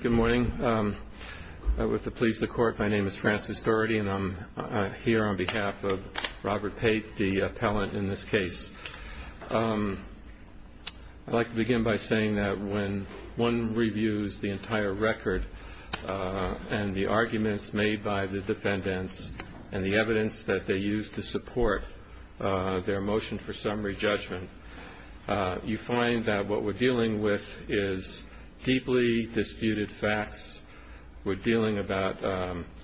Good morning. With the pleas of the Court, my name is Francis Doherty, and I'm here on behalf of Robert Pate, the appellant in this case. I'd like to begin by saying that when one reviews the entire record and the arguments made by the defendants and the evidence that they used to support their motion for summary judgment, you find that what we're dealing with is deeply disputed facts. We're dealing about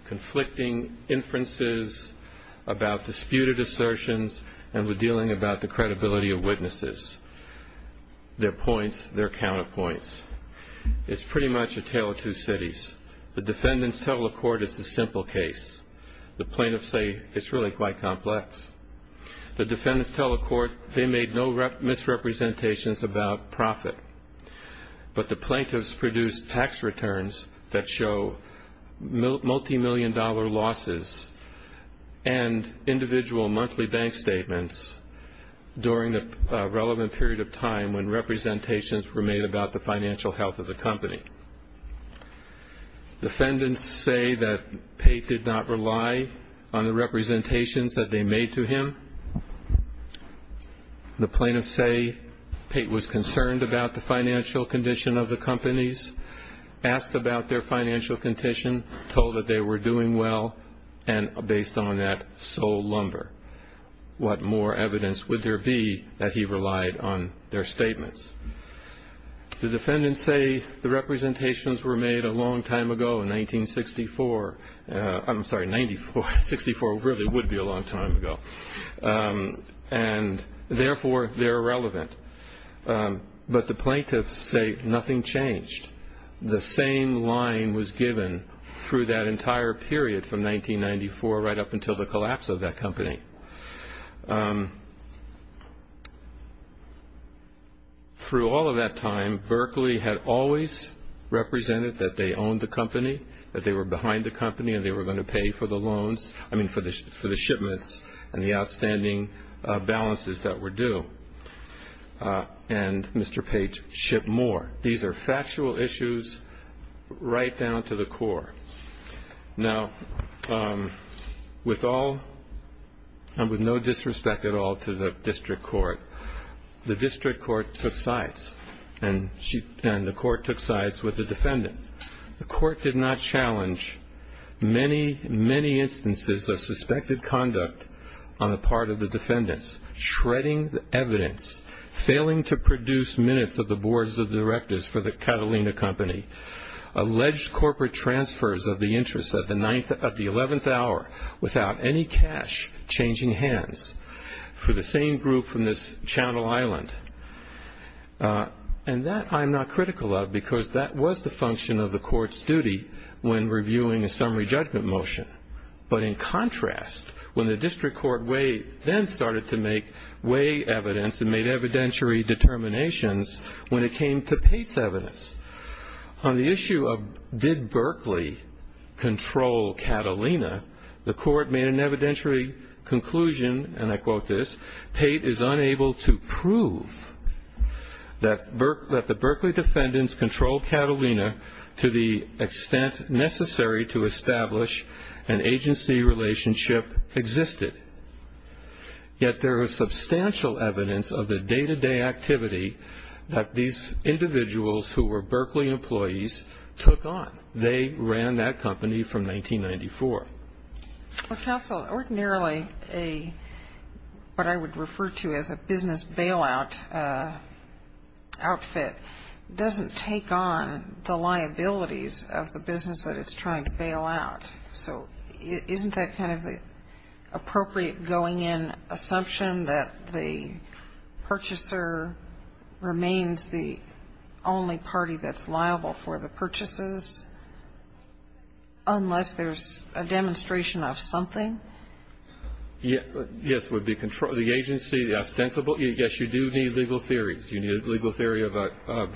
conflicting inferences, about disputed assertions, and we're dealing about the credibility of witnesses, their points, their counterpoints. It's pretty much a tale of two cities. The defendants tell the Court it's a simple case. The plaintiffs say it's really quite complex. The defendants tell the Court they made no misrepresentations about profit, but the plaintiffs produced tax returns that show multimillion-dollar losses and individual monthly bank statements during the relevant period of time when representations were made about the financial health of the company. Defendants say that Pate did not rely on the representations that they made to him. The plaintiffs say Pate was concerned about the financial condition of the companies, asked about their financial condition, told that they were doing well, and based on that, sold lumber. What more evidence would there be that he relied on their statements? The defendants say the representations were made a long time ago, 1964. I'm sorry, 1964 really would be a long time ago, and therefore they're irrelevant. But the plaintiffs say nothing changed. The same line was given through that entire period from 1994 right up until the collapse of that company. Through all of that time, Berkeley had always represented that they owned the company, that they were behind the company and they were going to pay for the loans, I mean for the shipments and the outstanding balances that were due, and Mr. Pate shipped more. These are factual issues right down to the core. Now, with all and with no disrespect at all to the district court, the district court took sides, and the court took sides with the defendant. The court did not challenge many, many instances of suspected conduct on the part of the defendants, shredding the evidence, failing to produce minutes of the boards of directors for the Catalina Company, alleged corporate transfers of the interest of the 11th hour without any cash changing hands for the same group from this Channel Island. And that I'm not critical of because that was the function of the court's duty when reviewing a summary judgment motion. But in contrast, when the district court then started to make way evidence and made evidentiary determinations when it came to Pate's evidence, on the issue of did Berkeley control Catalina, the court made an evidentiary conclusion, and I quote this, Pate is unable to prove that the Berkeley defendants controlled Catalina to the extent necessary to establish an agency relationship existed. Yet there is substantial evidence of the day-to-day activity that these individuals who were Berkeley employees took on. They ran that company from 1994. Well, counsel, ordinarily what I would refer to as a business bailout outfit doesn't take on the liabilities of the business that it's trying to bail out. So isn't that kind of the appropriate going-in assumption that the purchaser remains the only party that's liable for the purchases unless there's a demonstration of something? Yes. The agency, the ostensible, yes, you do need legal theories. You need a legal theory of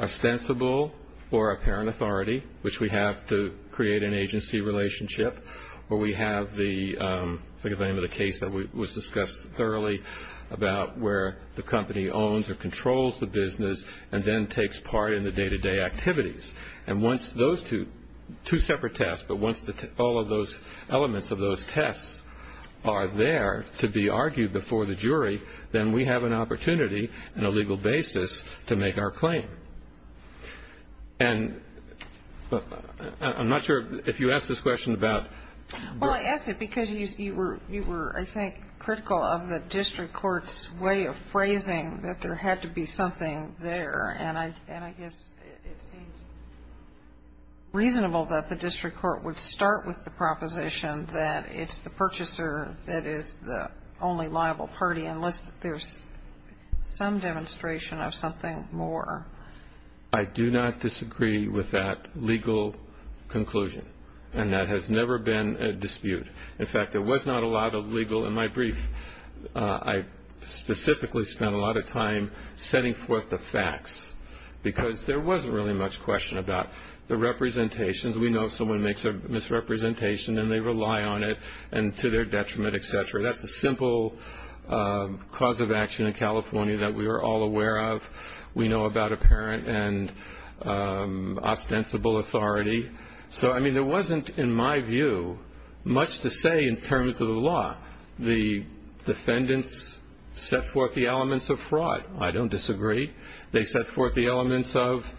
ostensible or apparent authority, which we have to create an agency relationship, where we have the case that was discussed thoroughly about where the company owns or controls the business and then takes part in the day-to-day activities. And once those two separate tests, but once all of those elements of those tests are there to be argued before the jury, then we have an opportunity and a legal basis to make our claim. And I'm not sure if you asked this question about Berkeley. Well, I asked it because you were, I think, critical of the district court's way of phrasing that there had to be something there. And I guess it seemed reasonable that the district court would start with the proposition that it's the purchaser that is the only liable party unless there's some demonstration of something more. I do not disagree with that legal conclusion. And that has never been a dispute. In fact, there was not a lot of legal. In my brief, I specifically spent a lot of time setting forth the facts, because there wasn't really much question about the representations. We know if someone makes a misrepresentation and they rely on it and to their detriment, et cetera. That's a simple cause of action in California that we are all aware of. We know about apparent and ostensible authority. So, I mean, there wasn't, in my view, much to say in terms of the law. The defendants set forth the elements of fraud. I don't disagree. They set forth the elements of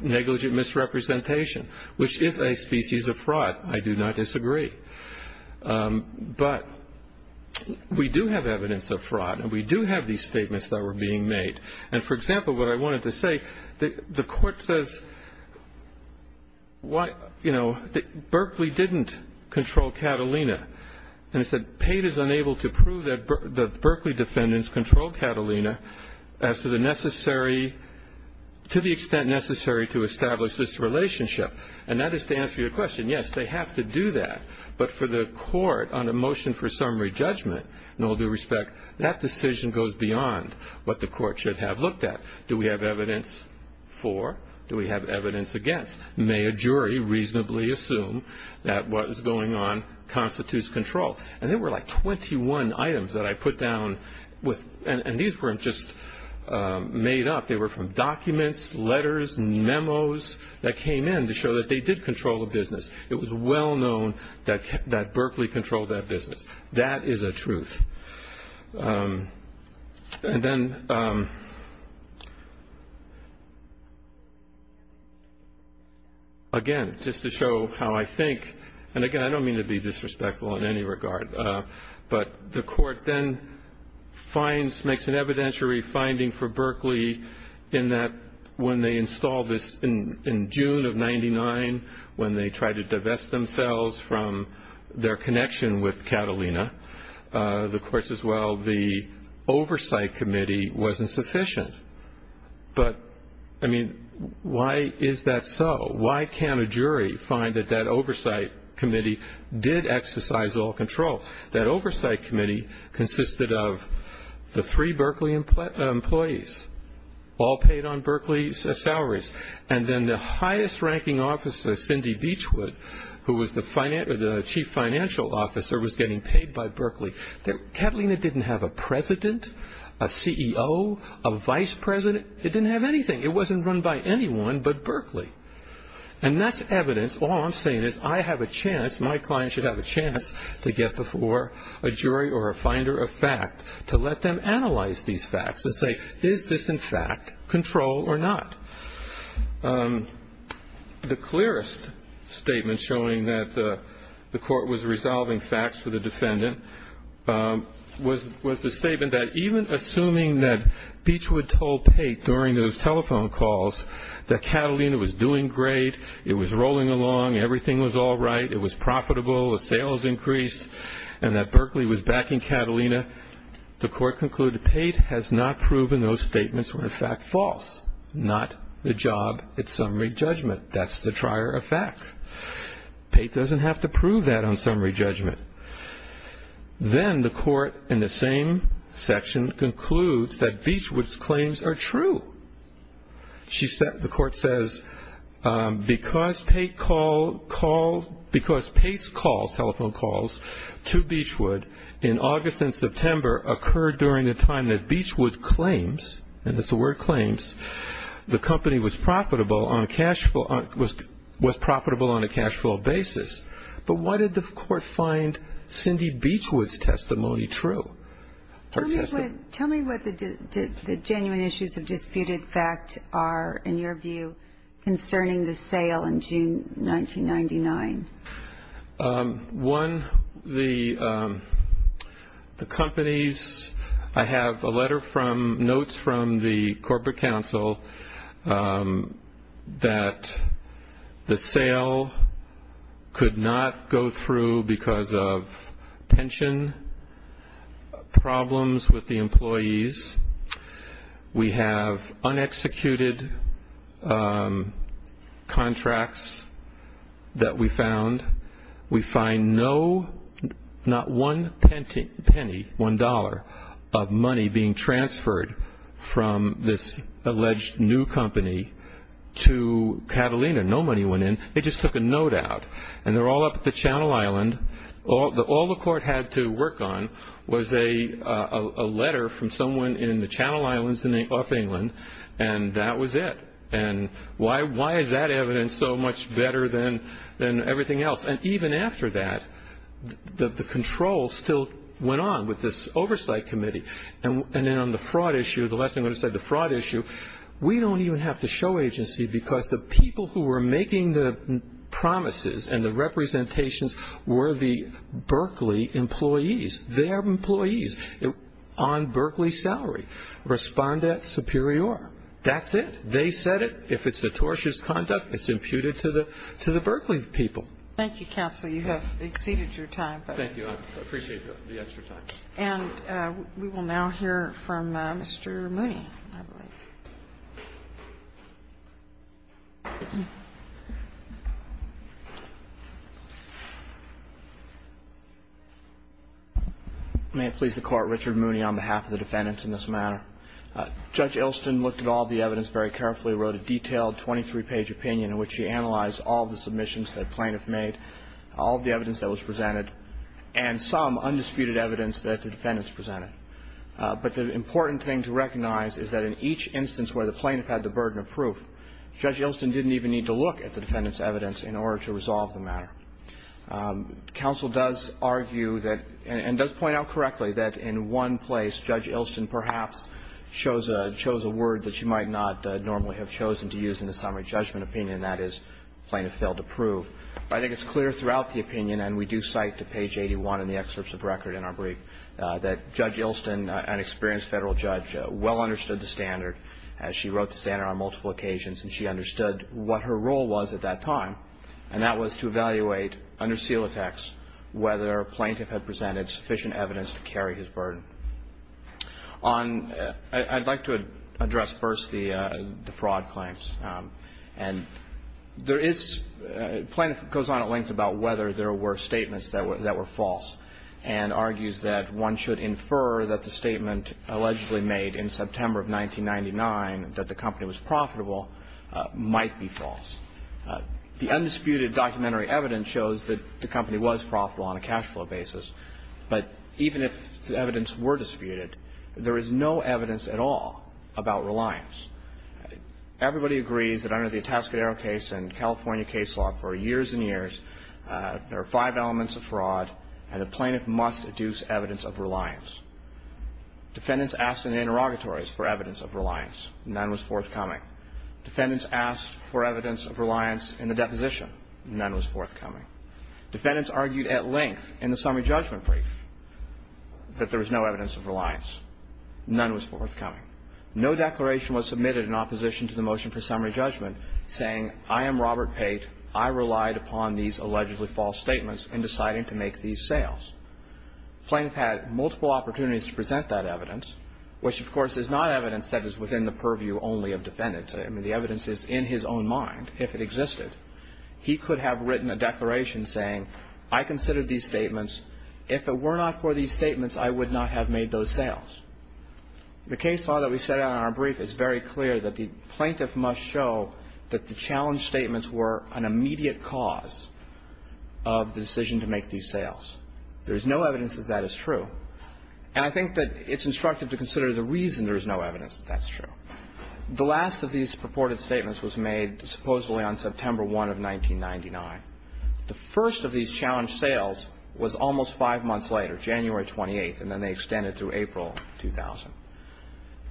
negligent misrepresentation, which is a species of fraud. I do not disagree. But we do have evidence of fraud, and we do have these statements that were being made. And, for example, what I wanted to say, the court says, you know, that Berkeley didn't control Catalina. And it said, Pate is unable to prove that Berkeley defendants controlled Catalina as to the necessary to the extent necessary to establish this relationship. And that is to answer your question. Yes, they have to do that. But for the court on a motion for summary judgment, in all due respect, that decision goes beyond what the court should have looked at. Do we have evidence for? Do we have evidence against? May a jury reasonably assume that what is going on constitutes control? And there were like 21 items that I put down, and these weren't just made up. They were from documents, letters, memos that came in to show that they did control the business. It was well known that Berkeley controlled that business. That is a truth. And then, again, just to show how I think, and, again, I don't mean to be disrespectful in any regard, but the court then makes an evidentiary finding for Berkeley in that when they installed this in June of 99, when they tried to divest themselves from their connection with Catalina, the courts as well, the oversight committee wasn't sufficient. But, I mean, why is that so? Why can't a jury find that that oversight committee did exercise all control? That oversight committee consisted of the three Berkeley employees, all paid on Berkeley salaries. And then the highest ranking officer, Cindy Beachwood, who was the chief financial officer, was getting paid by Berkeley. Catalina didn't have a president, a CEO, a vice president. It didn't have anything. It wasn't run by anyone but Berkeley. And that's evidence. All I'm saying is I have a chance, my client should have a chance to get before a jury or a finder of fact to let them analyze these facts and say, is this, in fact, control or not? The clearest statement showing that the court was resolving facts for the defendant was the statement that even assuming that Beachwood told Pate during those telephone calls that Catalina was doing great, it was rolling along, everything was all right, it was profitable, the sales increased, and that Berkeley was backing Catalina, the court concluded Pate has not proven those statements were, in fact, false, not the job at summary judgment. That's the trier of fact. Pate doesn't have to prove that on summary judgment. Then the court in the same section concludes that Beachwood's claims are true. The court says because Pate's calls, telephone calls, to Beachwood in August and September occurred during the time that Beachwood claims, and it's the word claims, the company was profitable on a cash flow basis. But why did the court find Cindy Beachwood's testimony true? Tell me what the genuine issues of disputed fact are, in your view, concerning the sale in June 1999. One, the companies, I have a letter from, notes from the corporate counsel that the sale could not go through because of pension problems with the employees. We have unexecuted contracts that we found. We find no, not one penny, one dollar of money being transferred from this alleged new company to Catalina. No money went in. They just took a note out, and they're all up at the Channel Island. All the court had to work on was a letter from someone in the Channel Islands off England, and that was it. And why is that evidence so much better than everything else? And even after that, the control still went on with this oversight committee. And then on the fraud issue, the last thing I'm going to say, the fraud issue, we don't even have to show agency because the people who were making the promises and the representations were the Berkeley employees. Their employees on Berkeley salary respond at superior. That's it. They said it. If it's atrocious conduct, it's imputed to the Berkeley people. Thank you, counsel. You have exceeded your time. Thank you. I appreciate the extra time. And we will now hear from Mr. Mooney, I believe. May it please the Court, Richard Mooney on behalf of the defendants in this matter. Judge Ilston looked at all the evidence very carefully, wrote a detailed 23-page opinion in which she analyzed all the submissions that plaintiff made, all the evidence that was presented, and some undisputed evidence that the defendants presented. But the important thing to recognize is that in each instance where the plaintiff had the burden of proof, Judge Ilston didn't even need to look at the defendants' evidence in order to resolve the matter. Counsel does argue that, and does point out correctly, that in one place, Judge Ilston perhaps chose a word that she might not normally have chosen to use in a summary judgment opinion, and that is plaintiff failed to prove. I think it's clear throughout the opinion, and we do cite to page 81 in the excerpts of record in our brief, that Judge Ilston, an experienced Federal judge, well understood the standard. She wrote the standard on multiple occasions, and she understood what her role was at that time, and that was to evaluate under seal attacks whether a plaintiff had presented sufficient evidence to carry his burden. I'd like to address first the fraud claims. And there is, plaintiff goes on at length about whether there were statements that were false, and argues that one should infer that the statement allegedly made in September of 1999, that the company was profitable, might be false. The undisputed documentary evidence shows that the company was profitable on a cash flow basis, but even if the evidence were disputed, there is no evidence at all about reliance. Everybody agrees that under the Atascadero case and California case law for years and years, there are five elements of fraud, and a plaintiff must adduce evidence of reliance. Defendants asked in interrogatories for evidence of reliance. None was forthcoming. Defendants asked for evidence of reliance in the deposition. None was forthcoming. Defendants argued at length in the summary judgment brief that there was no evidence of reliance. None was forthcoming. No declaration was submitted in opposition to the motion for summary judgment saying, I am Robert Pate, I relied upon these allegedly false statements in deciding to make these sales. Plaintiff had multiple opportunities to present that evidence, which of course is not evidence that is within the purview only of defendants. I mean, the evidence is in his own mind, if it existed. He could have written a declaration saying, I considered these statements. If it were not for these statements, I would not have made those sales. The case law that we set out in our brief is very clear that the plaintiff must show that the challenge statements were an immediate cause of the decision to make these sales. There is no evidence that that is true. And I think that it's instructive to consider the reason there is no evidence that that's true. The last of these purported statements was made supposedly on September 1 of 1999. The first of these challenge sales was almost five months later, January 28th, and then they extended through April 2000.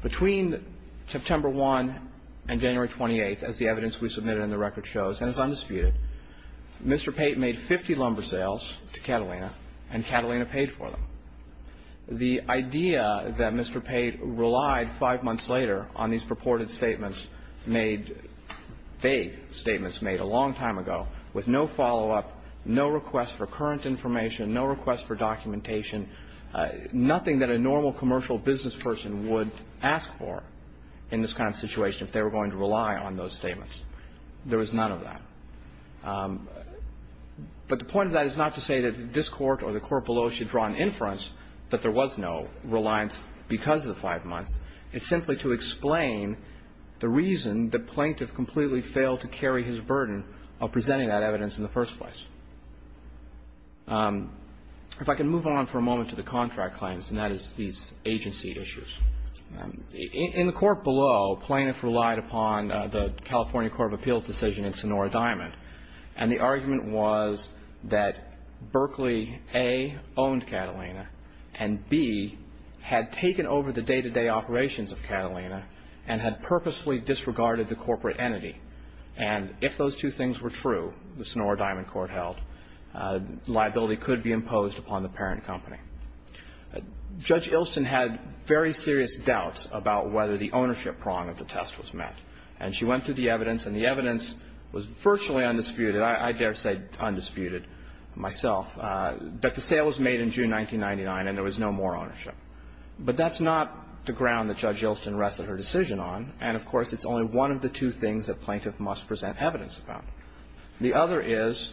Between September 1 and January 28th, as the evidence we submitted and the record shows, and it's undisputed, Mr. Pate made 50 lumber sales to Catalina, and Catalina paid for them. The idea that Mr. Pate relied five months later on these purported statements made vague statements made a long time ago with no follow-up, no request for current evidence, nothing that a normal commercial business person would ask for in this kind of situation if they were going to rely on those statements. There was none of that. But the point of that is not to say that this Court or the Court below should draw an inference that there was no reliance because of the five months. It's simply to explain the reason the plaintiff completely failed to carry his burden of presenting that evidence in the first place. If I can move on for a moment to the contract claims, and that is these agency issues. In the Court below, plaintiffs relied upon the California Court of Appeals decision in Sonora Diamond, and the argument was that Berkeley, A, owned Catalina, and B, had taken over the day-to-day operations of Catalina and had purposefully disregarded the corporate entity. And if those two things were true, the Sonora Diamond Court held, liability could be imposed upon the parent company. Judge Ilston had very serious doubts about whether the ownership prong of the test was met. And she went through the evidence, and the evidence was virtually undisputed. I dare say undisputed myself. But the sale was made in June 1999, and there was no more ownership. But that's not the ground that Judge Ilston rested her decision on. And, of course, it's only one of the two things that plaintiff must present evidence about. The other is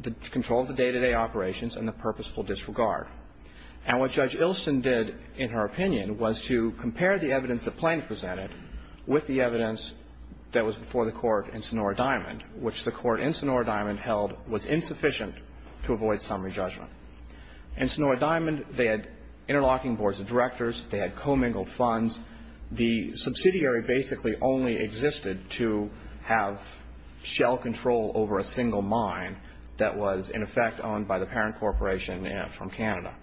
the control of the day-to-day operations and the purposeful disregard. And what Judge Ilston did, in her opinion, was to compare the evidence that plaintiff presented with the evidence that was before the Court in Sonora Diamond, which the Court in Sonora Diamond held was insufficient to avoid summary judgment. In Sonora Diamond, they had interlocking boards of directors. They had commingled funds. The subsidiary basically only existed to have shell control over a single mine that was, in effect, owned by the parent corporation from Canada.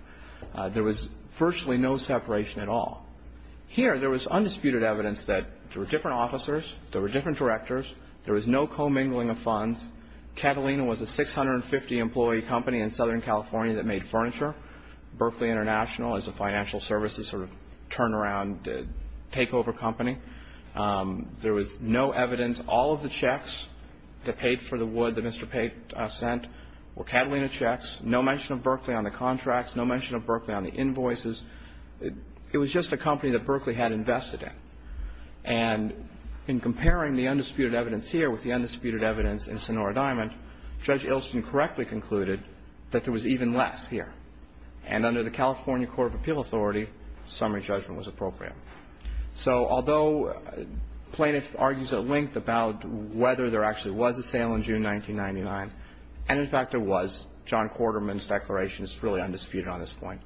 There was virtually no separation at all. Here, there was undisputed evidence that there were different officers, there were different directors, there was no commingling of funds. Catalina was a 650-employee company in Southern California that made furniture. Berkeley International is a financial services sort of turnaround takeover company. There was no evidence. All of the checks that paid for the wood that Mr. Pate sent were Catalina checks, no mention of Berkeley on the contracts, no mention of Berkeley on the invoices. It was just a company that Berkeley had invested in. And in comparing the undisputed evidence here with the undisputed evidence in Sonora Diamond, Judge Ilston correctly concluded that there was even less here. And under the California Court of Appeal authority, summary judgment was appropriate. So although plaintiff argues at length about whether there actually was a sale in June 1999, and, in fact, there was, John Quarterman's declaration is really undisputed on this point.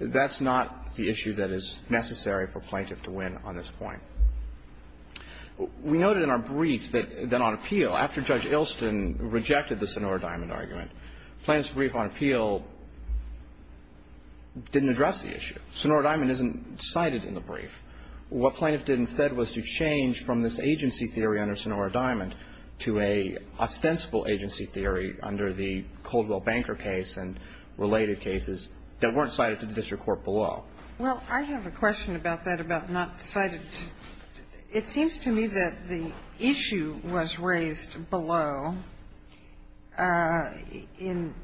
That's not the issue that is necessary for plaintiff to win on this point. We noted in our brief that on appeal, after Judge Ilston rejected the Sonora Diamond argument, plaintiff's brief on appeal didn't address the issue. Sonora Diamond isn't cited in the brief. What plaintiff did instead was to change from this agency theory under Sonora Diamond to an ostensible agency theory under the Coldwell Banker case and related cases that weren't cited to the district court below. Well, I have a question about that, about not cited. It seems to me that the issue was raised below in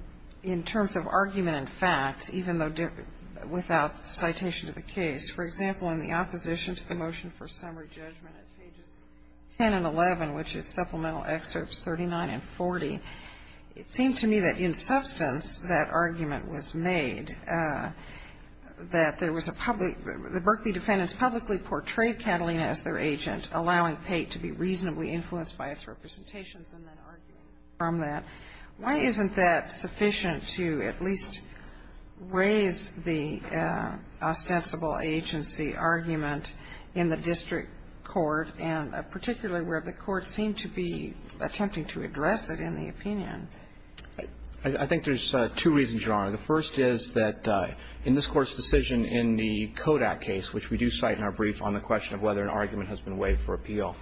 terms of argument and facts, even though without citation to the case. For example, in the opposition to the motion for summary judgment at pages 10 and 11, which is supplemental excerpts 39 and 40, it seemed to me that in substance that argument was made, that there was a public — the Berkeley defendants publicly portrayed Catalina as their agent, allowing Pate to be reasonably influenced by its representations and then arguing from that. Why isn't that sufficient to at least raise the ostensible agency argument in the district court and particularly where the court seemed to be attempting to address it in the opinion? I think there's two reasons, Your Honor. The first is that in this Court's decision in the Kodak case, which we do cite in our brief on the question of whether an argument has been waived for appeal,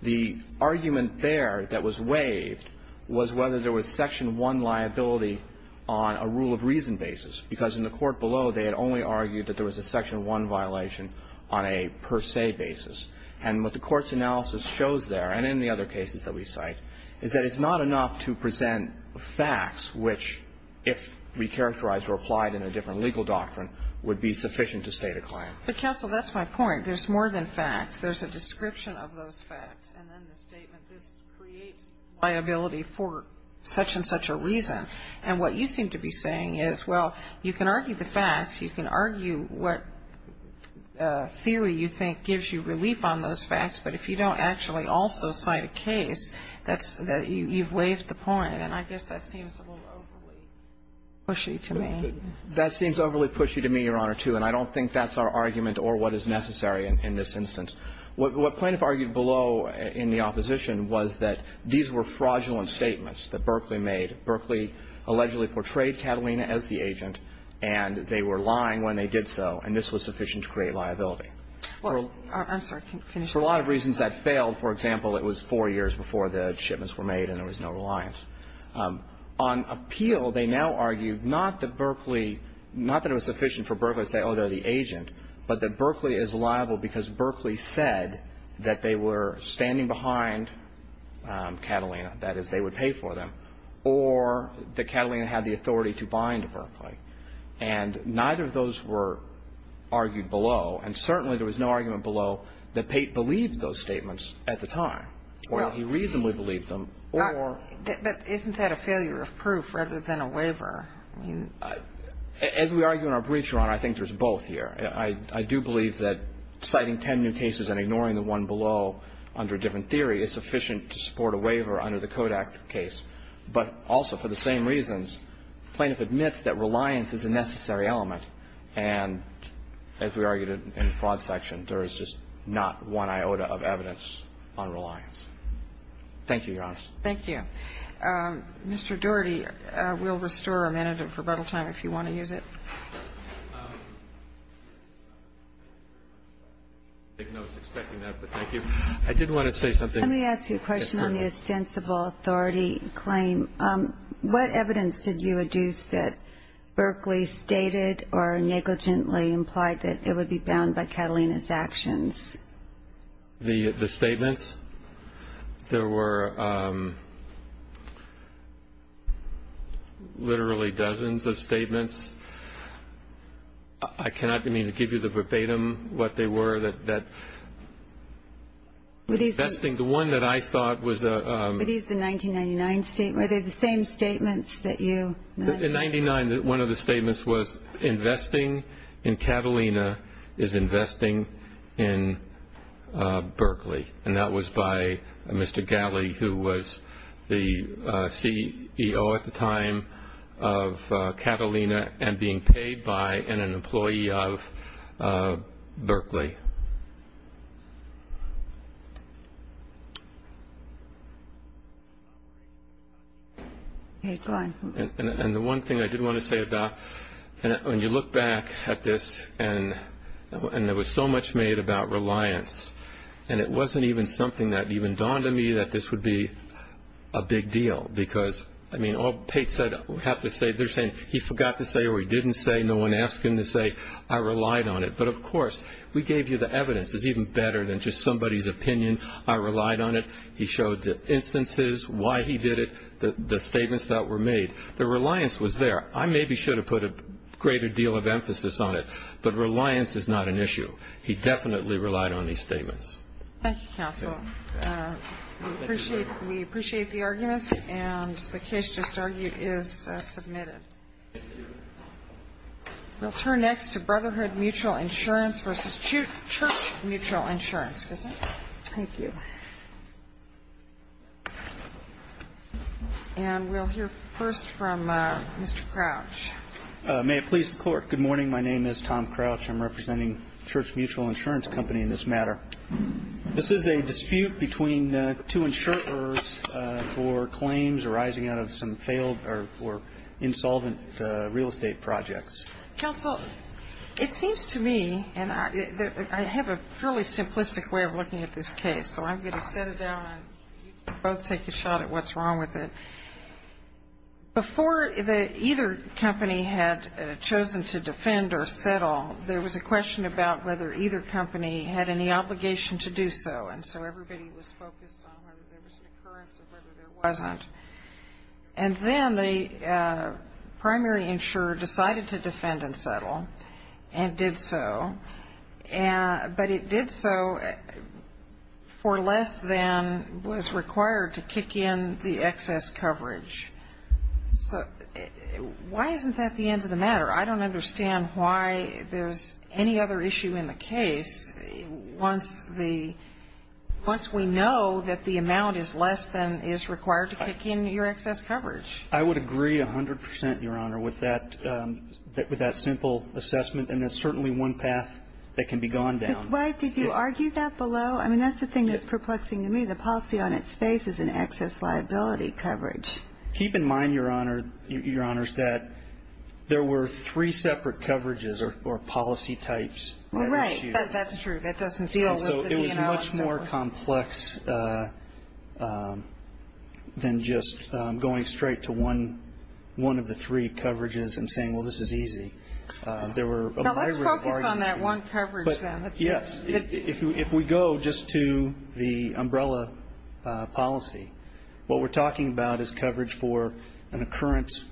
the argument there that was waived was whether there was Section 1 liability on a rule of reason basis, because in the court below, they had only argued that there was a Section 1 violation on a per se basis. And what the Court's analysis shows there, and in the other cases that we cite, is that it's not enough to present facts which, if recharacterized or applied in a different legal doctrine, would be sufficient to state a claim. But, counsel, that's my point. There's more than facts. There's a description of those facts. And then the statement, this creates liability for such and such a reason. And what you seem to be saying is, well, you can argue the facts, you can argue what theory you think gives you relief on those facts, but if you don't actually also cite a case, you've waived the point. And I guess that seems a little overly pushy to me. That seems overly pushy to me, Your Honor, too, and I don't think that's our argument or what is necessary in this instance. What plaintiff argued below in the opposition was that these were fraudulent statements that Berkeley made. Berkeley allegedly portrayed Catalina as the agent, and they were lying when they did so, and this was sufficient to create liability. I'm sorry. For a lot of reasons that failed, for example, it was four years before the shipments were made and there was no reliance. On appeal, they now argue not that Berkeley, not that it was sufficient for Berkeley to say, oh, they're the agent, but that Berkeley is liable because Berkeley said that they were standing behind Catalina, that is, they would pay for them, or that Catalina had the authority to bind Berkeley. And neither of those were argued below, and certainly there was no argument below that Pate believed those statements at the time, or that he reasonably believed them, or the other. But isn't that a failure of proof rather than a waiver? As we argue in our brief, Your Honor, I think there's both here. I do believe that citing ten new cases and ignoring the one below under a different theory is sufficient to support a waiver under the Kodak case. But also for the same reasons, plaintiff admits that reliance is a necessary element, and as we argued in the fraud section, there is just not one iota of evidence on reliance. Thank you, Your Honor. Thank you. Mr. Doherty, we'll restore a minute of rebuttal time if you want to use it. I didn't know I was expecting that, but thank you. I did want to say something. Let me ask you a question on the ostensible authority claim. What evidence did you adduce that Berkeley stated or negligently implied that it would be bound by Catalina's actions? The statements? There were literally dozens of statements. I cannot give you the verbatim what they were. The one that I thought was a 1999 statement. Are they the same statements that you mentioned? In 1999, one of the statements was investing in Catalina is investing in Berkeley. And that was by Mr. Galley, who was the CEO at the time of Catalina and being paid by and an employee of Berkeley. And the one thing I did want to say about, when you look back at this, and there was so much made about reliance, and it wasn't even something that even dawned on me that this would be a big deal. Because, I mean, all pates have to say, they're saying he forgot to say or he didn't say. No one asked him to say. I relied on it. But, of course, we gave you the evidence. It's even better than just somebody's opinion. I relied on it. He showed the instances, why he did it, the statements that were made. The reliance was there. I maybe should have put a greater deal of emphasis on it. He definitely relied on these statements. Thank you, counsel. We appreciate the arguments. And the case just argued is submitted. We'll turn next to Brotherhood Mutual Insurance v. Church Mutual Insurance. Thank you. And we'll hear first from Mr. Crouch. May it please the Court. Good morning. My name is Tom Crouch. I'm representing Church Mutual Insurance Company in this matter. This is a dispute between two insurers for claims arising out of some failed or insolvent real estate projects. Counsel, it seems to me, and I have a fairly simplistic way of looking at this case, so I'm going to set it down and you can both take a shot at what's wrong with it. Well, there was a question about whether either company had any obligation to do so, and so everybody was focused on whether there was an occurrence or whether there wasn't. And then the primary insurer decided to defend and settle and did so, but it did so for less than was required to kick in the excess coverage. So why isn't that the end of the matter? I don't understand why there's any other issue in the case once we know that the amount is less than is required to kick in your excess coverage. I would agree 100 percent, Your Honor, with that simple assessment, and that's certainly one path that can be gone down. Why did you argue that below? I mean, that's the thing that's perplexing to me. The policy on its face is an excess liability coverage. Keep in mind, Your Honor, Your Honors, that there were three separate coverages or policy types. Well, right. That's true. That doesn't deal with the DNR. And so it was much more complex than just going straight to one of the three coverages and saying, well, this is easy. Now, let's focus on that one coverage, then. Yes. If we go just to the umbrella policy, what we're talking about is coverage for an occurrence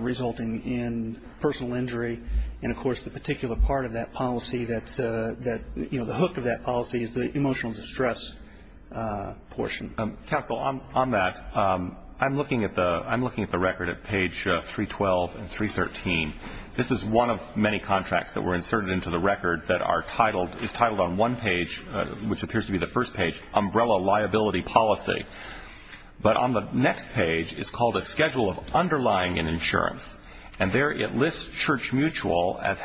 resulting in personal injury. And, of course, the particular part of that policy that, you know, the hook of that policy is the emotional distress portion. Counsel, on that, I'm looking at the record at page 312 and 313. This is one of many contracts that were inserted into the record that is titled on one page, which appears to be the first page, umbrella liability policy. But on the next page, it's called a schedule of underlying insurance. And there it lists Church Mutual as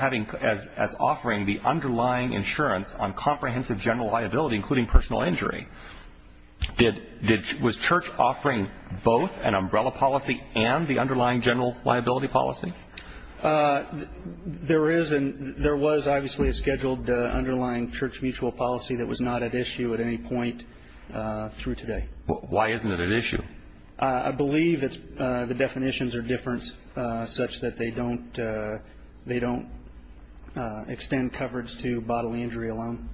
offering the underlying insurance on comprehensive general liability, including personal injury. Was Church offering both an umbrella policy and the underlying general liability policy? There is and there was, obviously, a scheduled underlying Church Mutual policy that was not at issue at any point through today. Why isn't it at issue? I believe the definitions are different such that they don't extend coverage to bodily injury alone.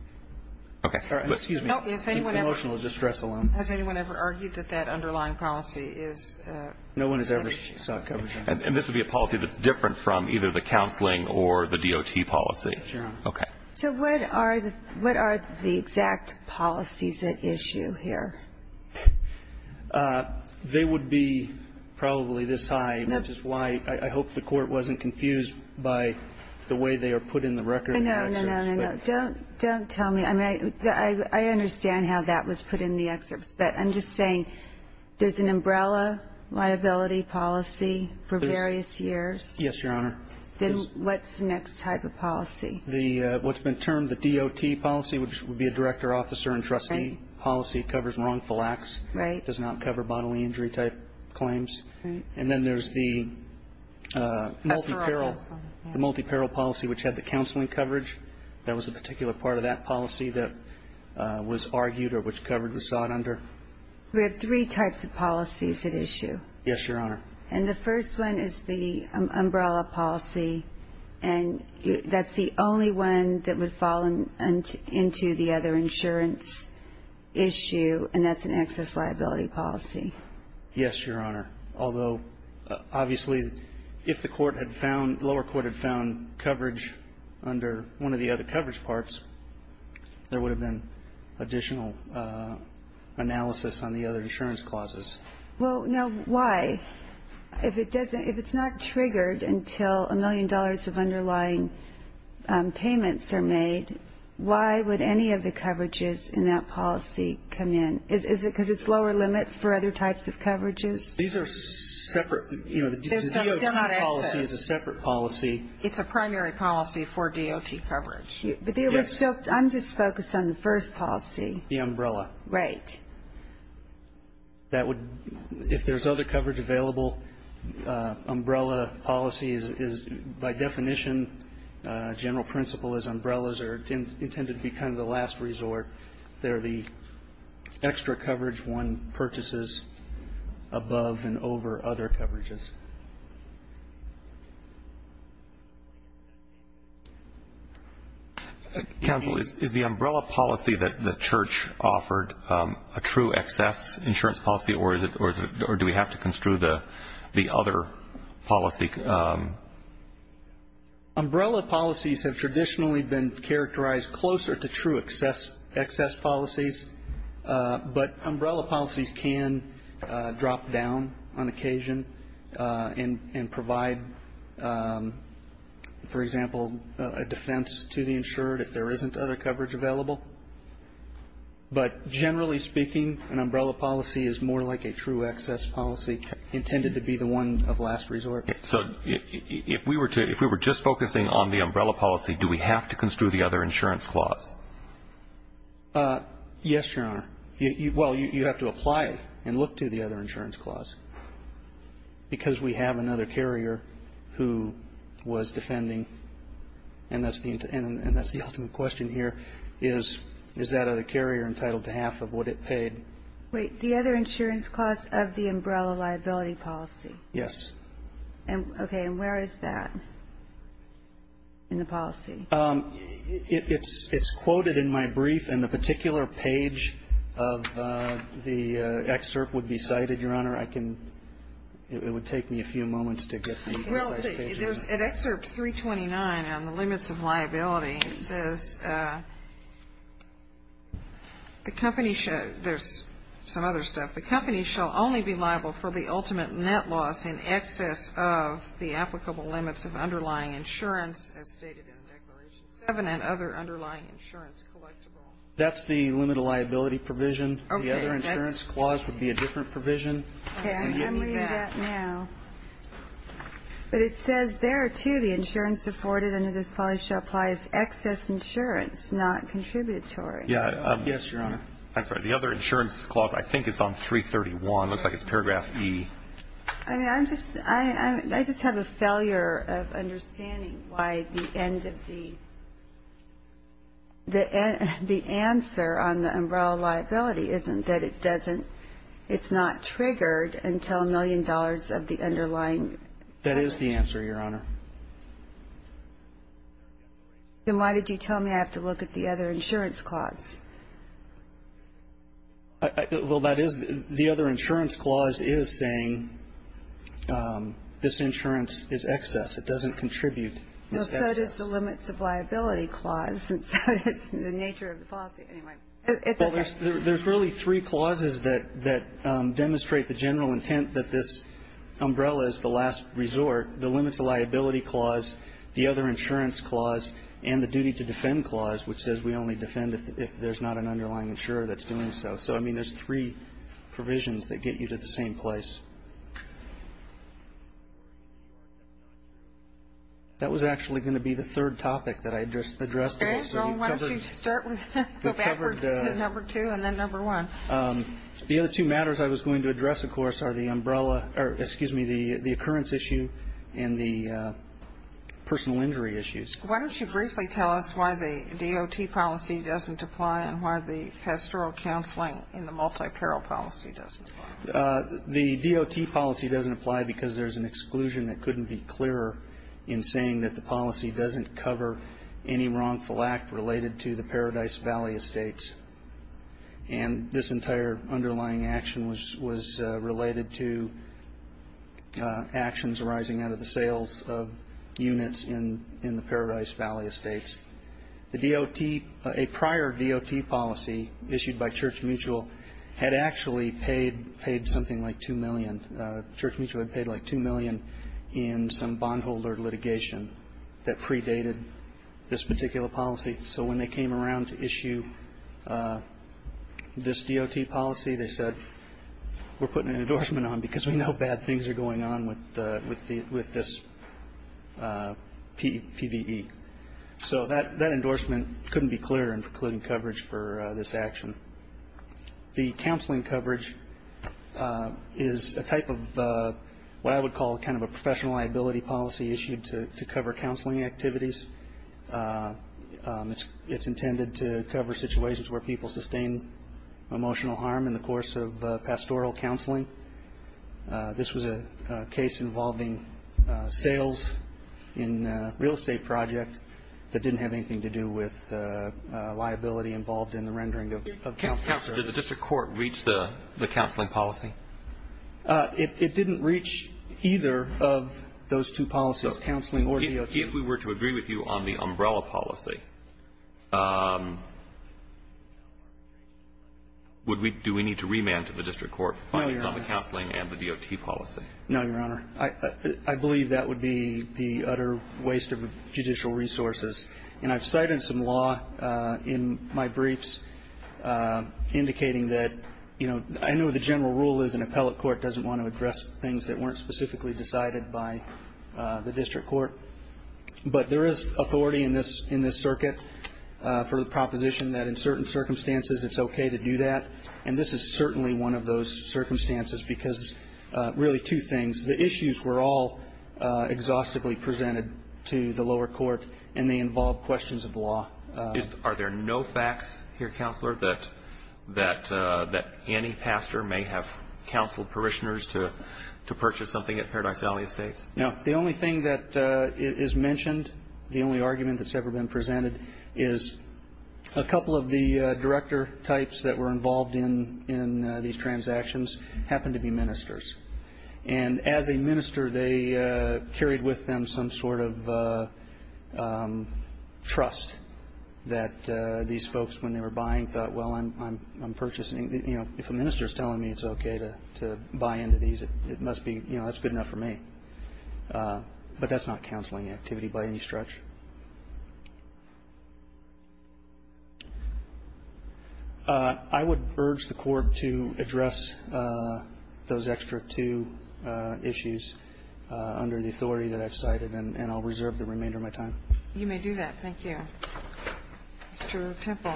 Okay. Excuse me. Emotional distress alone. Has anyone ever argued that that underlying policy is at issue? No one has ever sought coverage. And this would be a policy that's different from either the counseling or the DOT policy. Okay. So what are the exact policies at issue here? They would be probably this high, which is why I hope the Court wasn't confused by the way they are put in the record. No, no, no. Don't tell me. I mean, I understand how that was put in the excerpts. But I'm just saying there's an umbrella liability policy for various years. Yes, Your Honor. Then what's the next type of policy? What's been termed the DOT policy, which would be a director, officer, and trustee policy, covers wrongful acts. Right. Does not cover bodily injury type claims. Right. And then there's the multi-parole policy, which had the counseling coverage. That was a particular part of that policy that was argued or which coverage was sought under? We have three types of policies at issue. Yes, Your Honor. And the first one is the umbrella policy. And that's the only one that would fall into the other insurance issue, and that's an excess liability policy. Yes, Your Honor. Although, obviously, if the lower court had found coverage under one of the other coverage parts, there would have been additional analysis on the other insurance clauses. Well, now, why? If it's not triggered until a million dollars of underlying payments are made, why would any of the coverages in that policy come in? Is it because it's lower limits for other types of coverages? These are separate. You know, the DOT policy is a separate policy. It's a primary policy for DOT coverage. Yes. I'm just focused on the first policy. The umbrella. Right. That would, if there's other coverage available, umbrella policy is, by definition, general principle is umbrellas are intended to be kind of the last resort. They're the extra coverage one purchases above and over other coverages. Counsel, is the umbrella policy that the Church offered a true excess insurance policy, or do we have to construe the other policy? I think umbrella policies have traditionally been characterized closer to true excess policies, but umbrella policies can drop down on occasion and provide, for example, a defense to the insured if there isn't other coverage available. But generally speaking, an umbrella policy is more like a true excess policy, intended to be the one of last resort. So if we were to, if we were just focusing on the umbrella policy, do we have to construe the other insurance clause? Yes, Your Honor. Well, you have to apply it and look to the other insurance clause because we have another carrier who was defending, and that's the ultimate question here, is that other carrier entitled to half of what it paid? Wait. The other insurance clause of the umbrella liability policy? Yes. Okay. And where is that in the policy? It's quoted in my brief, and the particular page of the excerpt would be cited, Your Honor. Well, there's an excerpt 329 on the limits of liability. It says the company, there's some other stuff. The company shall only be liable for the ultimate net loss in excess of the applicable limits of underlying insurance as stated in Declaration 7 and other underlying insurance collectible. That's the limit of liability provision. Okay. The other insurance clause would be a different provision. Okay. I'm reading that now. But it says there, too, the insurance afforded under this policy shall apply as excess insurance, not contributory. Yes, Your Honor. I'm sorry. The other insurance clause I think is on 331. It looks like it's paragraph E. I mean, I just have a failure of understanding why the end of the answer on the umbrella isn't that it doesn't, it's not triggered until a million dollars of the underlying. That is the answer, Your Honor. Then why did you tell me I have to look at the other insurance clause? Well, that is, the other insurance clause is saying this insurance is excess. It doesn't contribute. Well, so does the limits of liability clause. It's the nature of the policy. There's really three clauses that demonstrate the general intent that this umbrella is the last resort, the limits of liability clause, the other insurance clause, and the duty to defend clause, which says we only defend if there's not an underlying insurer that's doing so. So, I mean, there's three provisions that get you to the same place. That was actually going to be the third topic that I addressed. Okay. Well, why don't you start with that, go backwards to number two and then number one. The other two matters I was going to address, of course, are the umbrella or, excuse me, the occurrence issue and the personal injury issues. Why don't you briefly tell us why the DOT policy doesn't apply and why the pastoral counseling and the multi-parole policy doesn't apply? The DOT policy doesn't apply because there's an exclusion that couldn't be clearer in saying that the policy doesn't cover any wrongful act related to the Paradise Valley estates. And this entire underlying action was related to actions arising out of the sales of units in the Paradise Valley estates. The DOT, a prior DOT policy issued by Church Mutual had actually paid something like 2 million. Church Mutual had paid like 2 million in some bondholder litigation that predated this particular policy. So when they came around to issue this DOT policy, they said, we're putting an endorsement on because we know bad things are going on with this PVE. So that endorsement couldn't be clearer in precluding coverage for this action. The counseling coverage is a type of what I would call kind of a professional liability policy issued to cover counseling activities. It's intended to cover situations where people sustain emotional harm in the course of pastoral counseling. This was a case involving sales in a real estate project that didn't have anything to do with liability involved in the rendering of counseling services. Counselor, did the district court reach the counseling policy? It didn't reach either of those two policies, counseling or DOT. If we were to agree with you on the umbrella policy, do we need to remand to the district court findings on the counseling and the DOT policy? No, Your Honor. I believe that would be the utter waste of judicial resources. And I've cited some law in my briefs indicating that, you know, I know the general rule is an appellate court doesn't want to address things that weren't specifically decided by the district court. But there is authority in this circuit for the proposition that in certain circumstances it's okay to do that. And this is certainly one of those circumstances because really two things. The issues were all exhaustively presented to the lower court, and they involved questions of law. Are there no facts here, Counselor, that any pastor may have counseled parishioners to purchase something at Paradise Valley Estates? No. The only thing that is mentioned, the only argument that's ever been presented, is a couple of the director types that were involved in these transactions happened to be ministers. And as a minister, they carried with them some sort of trust that these folks, when they were buying, thought, well, I'm purchasing. You know, if a minister is telling me it's okay to buy into these, it must be, you know, that's good enough for me. But that's not counseling activity by any stretch. I would urge the Court to address those extra two issues under the authority that I've cited, and I'll reserve the remainder of my time. You may do that. Thank you. Mr. Temple.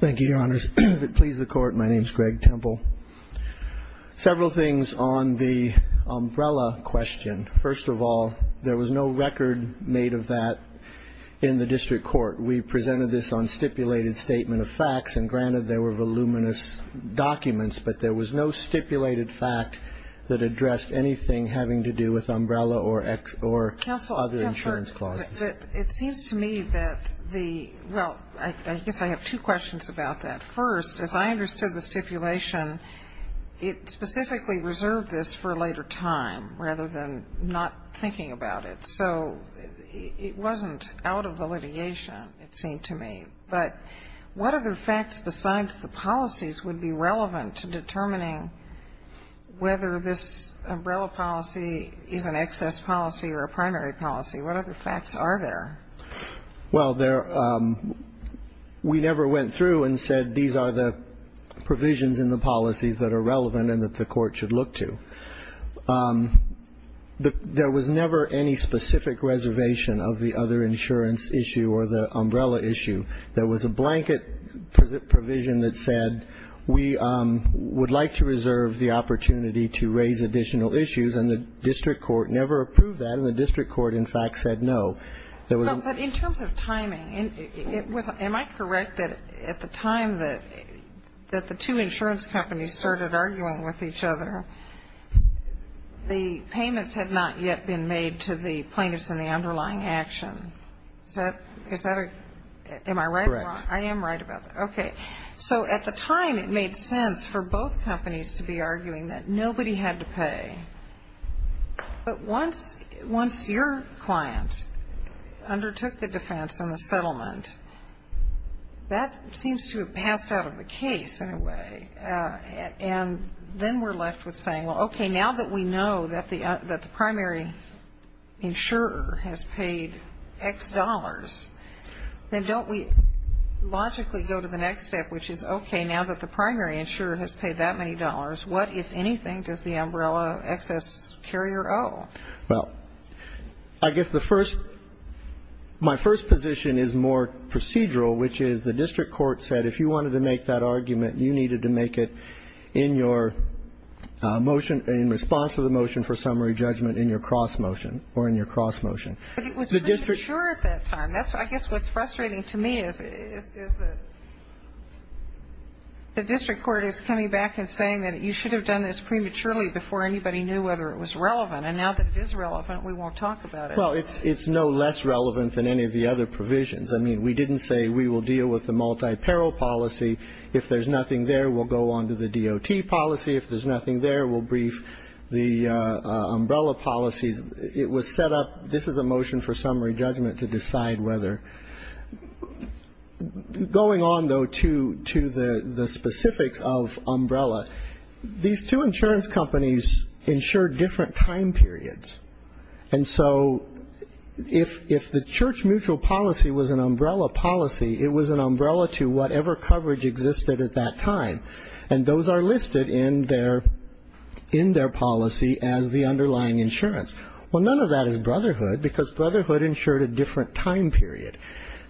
Thank you, Your Honors. If it pleases the Court, my name is Greg Temple. Several things on the umbrella question. First of all, there was no record made of that in the district court. We presented this on stipulated statement of facts, and granted there were voluminous documents, but there was no stipulated fact that addressed anything having to do with umbrella or other insurance clauses. Counselor, it seems to me that the – well, I guess I have two questions about that. First, as I understood the stipulation, it specifically reserved this for a later time rather than not thinking about it. So it wasn't out of validation, it seemed to me. But what other facts besides the policies would be relevant to determining whether this umbrella policy is an excess policy or a primary policy? What other facts are there? Well, there – we never went through and said these are the provisions in the policies that are relevant and that the Court should look to. There was never any specific reservation of the other insurance issue or the umbrella issue. There was a blanket provision that said we would like to reserve the opportunity to raise additional issues, and the district court never approved that, and the district court, in fact, said no. No, but in terms of timing, it was – am I correct that at the time that the two insurance companies started arguing with each other, the payments had not yet been made to the plaintiffs in the underlying action? Is that a – am I right? Correct. I am right about that. Okay. So at the time, it made sense for both companies to be arguing that nobody had to pay. But once your client undertook the defense and the settlement, that seems to have passed out of the case in a way, and then we're left with saying, well, okay, now that we know that the primary insurer has paid X dollars, then don't we logically go to the next step, which is, okay, now that the primary insurer has paid that many dollars, what, if anything, does the umbrella excess carrier owe? Well, I guess the first – my first position is more procedural, which is the district court said if you wanted to make that argument, you needed to make it in your motion in response to the motion for summary judgment in your cross motion or in your cross motion. But it was pretty sure at that time. That's – I guess what's frustrating to me is the district court is coming back and saying that you should have done this prematurely before anybody knew whether it was relevant. And now that it is relevant, we won't talk about it. Well, it's no less relevant than any of the other provisions. I mean, we didn't say we will deal with the multi-parole policy. If there's nothing there, we'll go on to the DOT policy. If there's nothing there, we'll brief the umbrella policies. This is a motion for summary judgment to decide whether – going on, though, to the specifics of umbrella. These two insurance companies insure different time periods. And so if the church mutual policy was an umbrella policy, it was an umbrella to whatever coverage existed at that time. And those are listed in their policy as the underlying insurance. Well, none of that is Brotherhood because Brotherhood insured a different time period.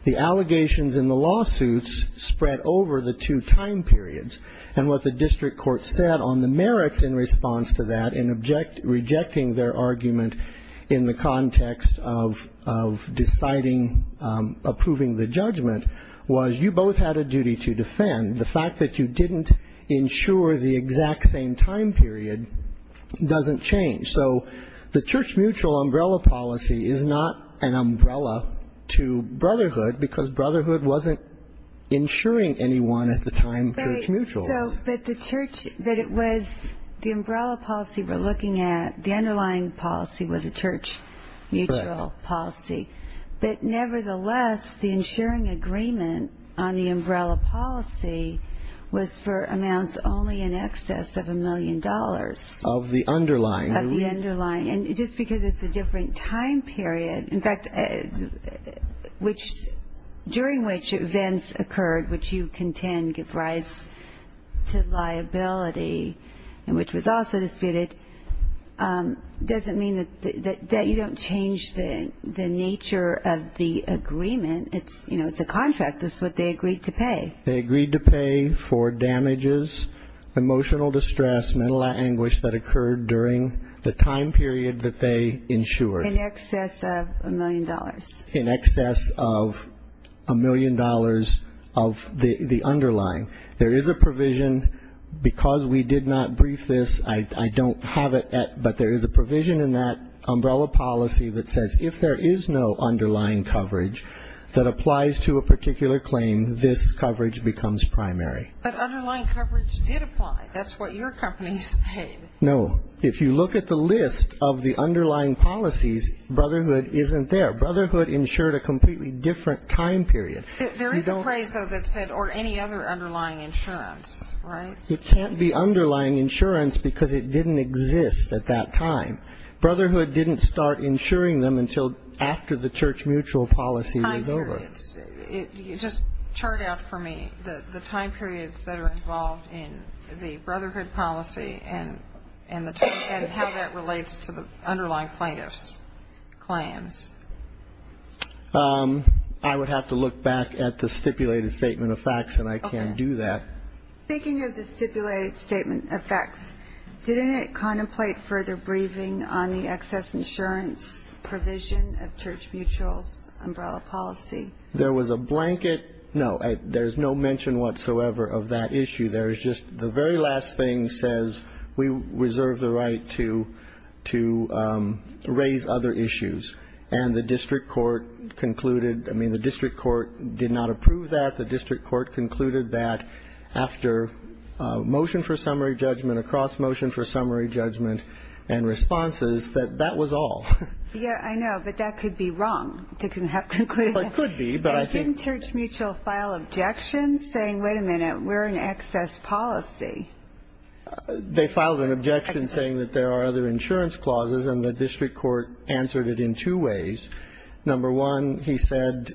The allegations in the lawsuits spread over the two time periods. And what the district court said on the merits in response to that in rejecting their argument in the context of deciding, approving the judgment, was you both had a duty to defend. The fact that you didn't insure the exact same time period doesn't change. So the church mutual umbrella policy is not an umbrella to Brotherhood because Brotherhood wasn't insuring anyone at the time church mutual was. But the church – but it was – the umbrella policy we're looking at, the underlying policy was a church mutual policy. But nevertheless, the insuring agreement on the umbrella policy was for amounts only in excess of a million dollars. Of the underlying. Of the underlying. And just because it's a different time period – in fact, which – during which events occurred which you contend give rise to liability and which was also disputed doesn't mean that you don't change the nature of the agreement. It's a contract. This is what they agreed to pay. They agreed to pay for damages, emotional distress, mental anguish that occurred during the time period that they insured. In excess of a million dollars. In excess of a million dollars of the underlying. There is a provision because we did not brief this. I don't have it, but there is a provision in that umbrella policy that says if there is no underlying coverage that applies to a particular claim, this coverage becomes primary. But underlying coverage did apply. That's what your companies paid. No. If you look at the list of the underlying policies, Brotherhood isn't there. Brotherhood insured a completely different time period. There is a phrase, though, that said or any other underlying insurance, right? It can't be underlying insurance because it didn't exist at that time. Brotherhood didn't start insuring them until after the church mutual policy was over. Time periods. Just chart out for me the time periods that are involved in the Brotherhood policy and how that relates to the underlying plaintiff's claims. I would have to look back at the stipulated statement of facts, and I can't do that. Okay. Speaking of the stipulated statement of facts, didn't it contemplate further briefing on the excess insurance provision of church mutual's umbrella policy? There was a blanket. No, there is no mention whatsoever of that issue. There is just the very last thing says we reserve the right to raise other issues. And the district court concluded, I mean, the district court did not approve that. The district court concluded that after motion for summary judgment, across motion for summary judgment and responses, that that was all. Yeah, I know. But that could be wrong to conclude. It could be. Didn't church mutual file objections saying, wait a minute, we're an excess policy? They filed an objection saying that there are other insurance clauses, and the district court answered it in two ways. Number one, he said,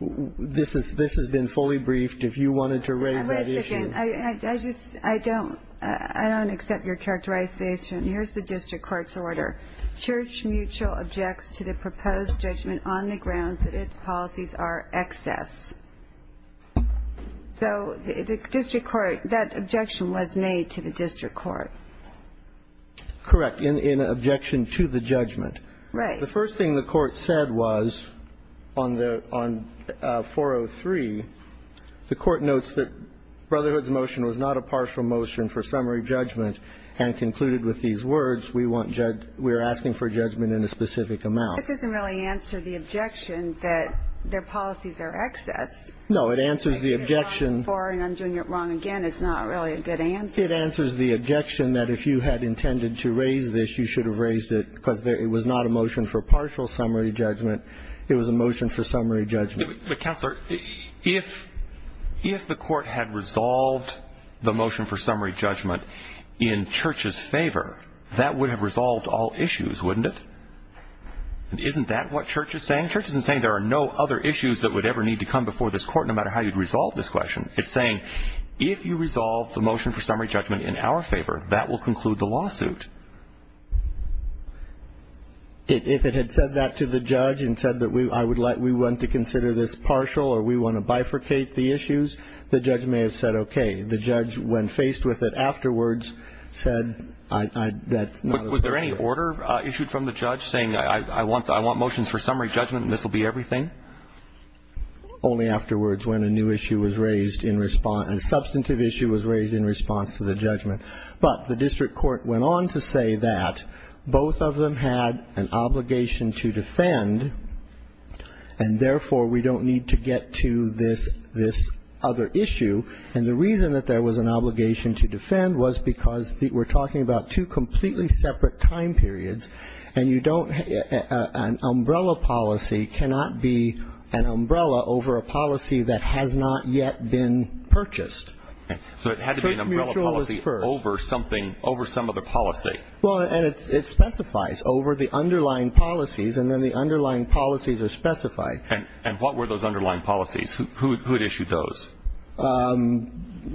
this has been fully briefed. If you wanted to raise that issue. Wait a second. I don't accept your characterization. Here's the district court's order. Church mutual objects to the proposed judgment on the grounds that its policies are excess. So the district court, that objection was made to the district court. Correct. But in objection to the judgment. Right. The first thing the court said was on 403, the court notes that Brotherhood's motion was not a partial motion for summary judgment and concluded with these words, we are asking for judgment in a specific amount. This doesn't really answer the objection that their policies are excess. No, it answers the objection. And I'm doing it wrong again. It's not really a good answer. It answers the objection that if you had intended to raise this, you should have raised it because it was not a motion for partial summary judgment. It was a motion for summary judgment. But, Counselor, if the court had resolved the motion for summary judgment in Church's favor, that would have resolved all issues, wouldn't it? Isn't that what Church is saying? Church isn't saying there are no other issues that would ever need to come before this court, no matter how you'd resolve this question. It's saying if you resolve the motion for summary judgment in our favor, that will conclude the lawsuit. If it had said that to the judge and said that we want to consider this partial or we want to bifurcate the issues, the judge may have said okay. The judge, when faced with it afterwards, said that's not a good idea. Was there any order issued from the judge saying I want motions for summary judgment and this will be everything? Only afterwards when a new issue was raised in response, a substantive issue was raised in response to the judgment. But the district court went on to say that both of them had an obligation to defend and, therefore, we don't need to get to this other issue. And the reason that there was an obligation to defend was because we're talking about two completely separate time periods and you don't an umbrella policy cannot be an umbrella over a policy that has not yet been purchased. So it had to be an umbrella policy over something, over some other policy. Well, and it specifies over the underlying policies and then the underlying policies are specified. And what were those underlying policies? Who had issued those?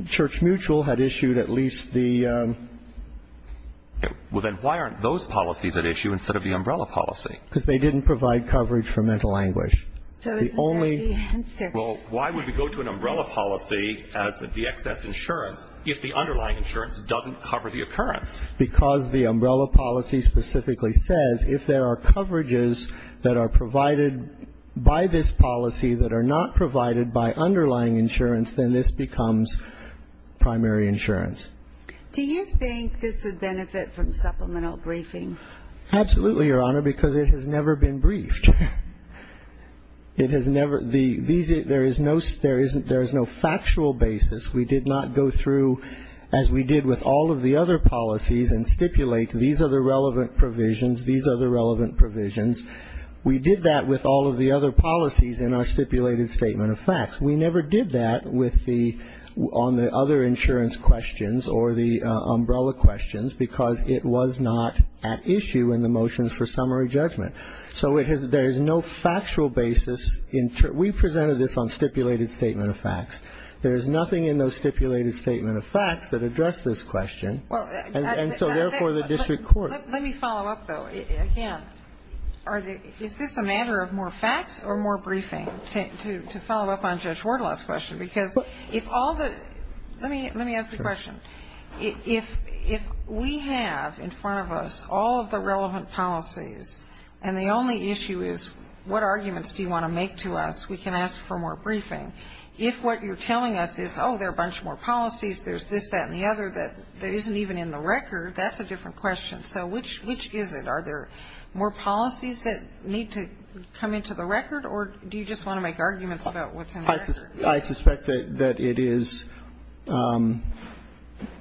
Church Mutual had issued at least the... Well, then why aren't those policies at issue instead of the umbrella policy? Because they didn't provide coverage for mental anguish. So isn't that the answer? Well, why would we go to an umbrella policy as the excess insurance if the underlying insurance doesn't cover the occurrence? Because the umbrella policy specifically says if there are coverages that are provided by this policy that are not provided by underlying insurance, then this becomes primary insurance. Do you think this would benefit from supplemental briefing? Absolutely, Your Honor, because it has never been briefed. It has never... There is no factual basis. We did not go through, as we did with all of the other policies, and stipulate these are the relevant provisions, these are the relevant provisions. We did that with all of the other policies in our stipulated statement of facts. We never did that on the other insurance questions or the umbrella questions because it was not at issue in the motions for summary judgment. So there is no factual basis. We presented this on stipulated statement of facts. There is nothing in those stipulated statement of facts that address this question, and so therefore the district court. Let me follow up, though, again. Is this a matter of more facts or more briefing to follow up on Judge Wardlaw's question? Because if all the... Let me ask the question. If we have in front of us all of the relevant policies and the only issue is what arguments do you want to make to us, we can ask for more briefing. If what you're telling us is, oh, there are a bunch more policies, there's this, that and the other that isn't even in the record, that's a different question. So which is it? Are there more policies that need to come into the record or do you just want to make arguments about what's in the record? I suspect that it is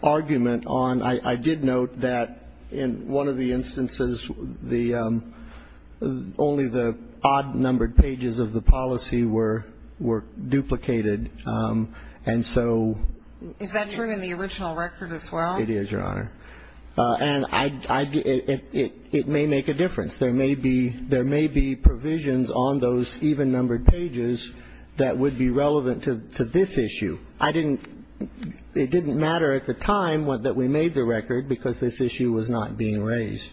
argument on... I did note that in one of the instances, only the odd-numbered pages of the policy were duplicated, and so... Is that true in the original record as well? It is, Your Honor. And it may make a difference. There may be provisions on those even-numbered pages that would be relevant to this issue. I didn't... It didn't matter at the time that we made the record because this issue was not being raised.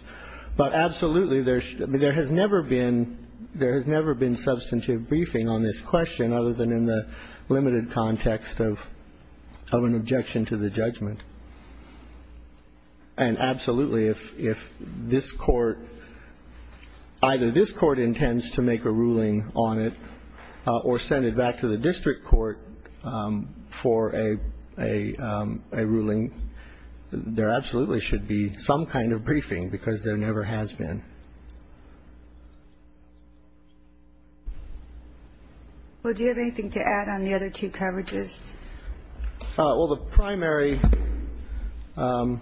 But absolutely, there has never been substantive briefing on this question other than in the limited context of an objection to the judgment. And absolutely, if this Court, either this Court intends to make a ruling on it or send it back to the district court for a ruling, there absolutely should be some kind of briefing because there never has been. Well, do you have anything to add on the other two coverages? Well, the primary, the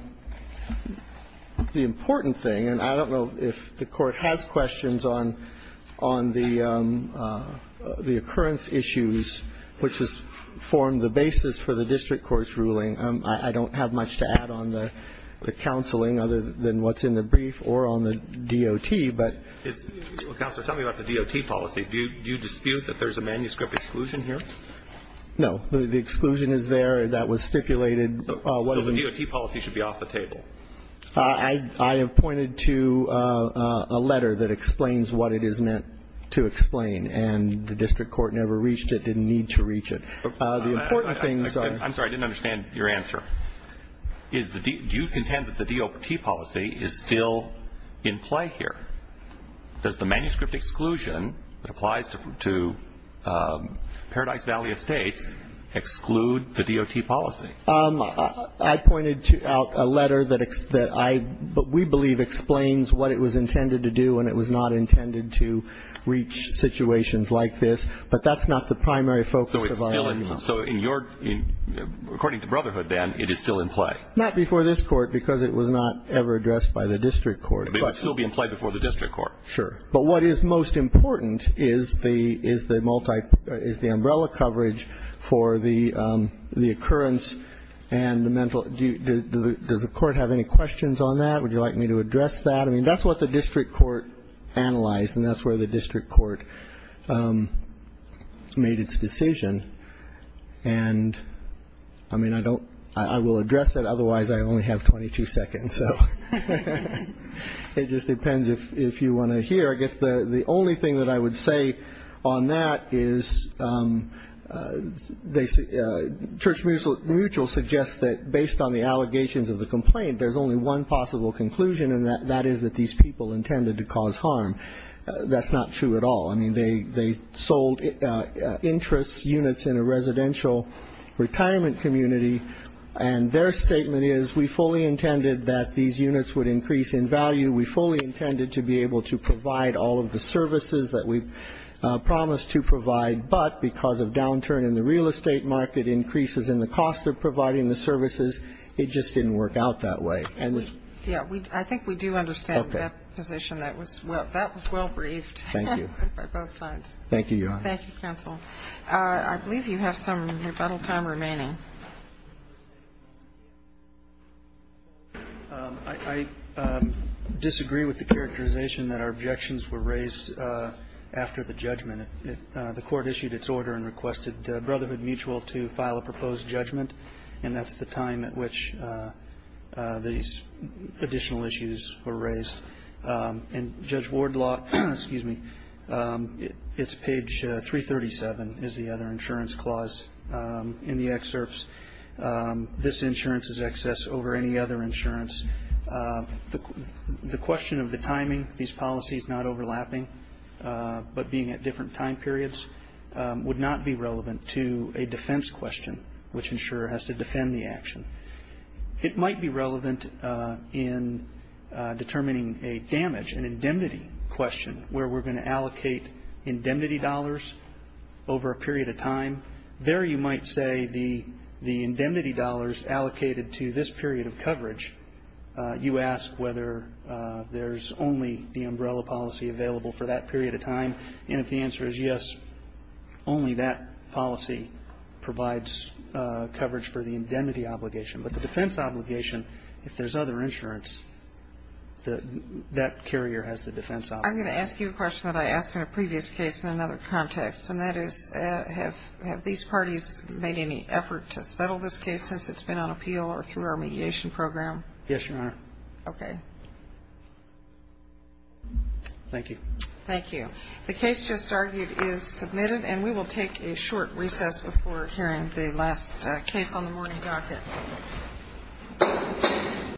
important thing, and I don't know if the Court has questions on the occurrence issues, which has formed the basis for the district court's ruling. I don't have much to add on the counseling other than what's in the brief or on the DOT, but... Counselor, tell me about the DOT policy. Do you dispute that there's a manuscript exclusion here? No. The exclusion is there. That was stipulated... So the DOT policy should be off the table? I have pointed to a letter that explains what it is meant to explain, and the district court never reached it, didn't need to reach it. The important things are... I'm sorry. I didn't understand your answer. Do you contend that the DOT policy is still in play here? Does the manuscript exclusion that applies to Paradise Valley Estates exclude the DOT policy? I pointed out a letter that I... that we believe explains what it was intended to do, and it was not intended to reach situations like this. But that's not the primary focus of our... So it's still... So in your... According to Brotherhood, then, it is still in play? Not before this Court, because it was not ever addressed by the district court. It's still being played before the district court. Sure. But what is most important is the umbrella coverage for the occurrence and the mental... Does the court have any questions on that? Would you like me to address that? I mean, that's what the district court analyzed, and that's where the district court made its decision. And, I mean, I don't... It just depends if you want to hear. I guess the only thing that I would say on that is they... Church Mutual suggests that based on the allegations of the complaint, there's only one possible conclusion, and that is that these people intended to cause harm. That's not true at all. I mean, they sold interest units in a residential retirement community, and their statement is, we fully intended that these units would increase in value. We fully intended to be able to provide all of the services that we promised to provide, but because of downturn in the real estate market, increases in the cost of providing the services, it just didn't work out that way. Yeah. I think we do understand that position. That was well briefed. Thank you. By both sides. Thank you, Your Honor. Thank you, counsel. I believe you have some rebuttal time remaining. I disagree with the characterization that our objections were raised after the judgment. The Court issued its order and requested Brotherhood Mutual to file a proposed judgment, and that's the time at which these additional issues were raised. And Judge Wardlaw, excuse me, it's page 337 is the other insurance clause in the excerpts. This insurance is excess over any other insurance. The question of the timing, these policies not overlapping, but being at different time periods would not be relevant to a defense question, which insurer has to defend the action. It might be relevant in determining a damage, an indemnity question, where we're going to allocate indemnity dollars over a period of time. There you might say the indemnity dollars allocated to this period of coverage, you ask whether there's only the umbrella policy available for that period of time, and if the answer is yes, only that policy provides coverage for the indemnity obligation. But the defense obligation, if there's other insurance, that carrier has the defense obligation. I'm going to ask you a question that I asked in a previous case in another context, and that is have these parties made any effort to settle this case since it's been on appeal or through our mediation program? Yes, Your Honor. Okay. Thank you. Thank you. The case just argued is submitted, and we will take a short recess before hearing the last case on the morning docket.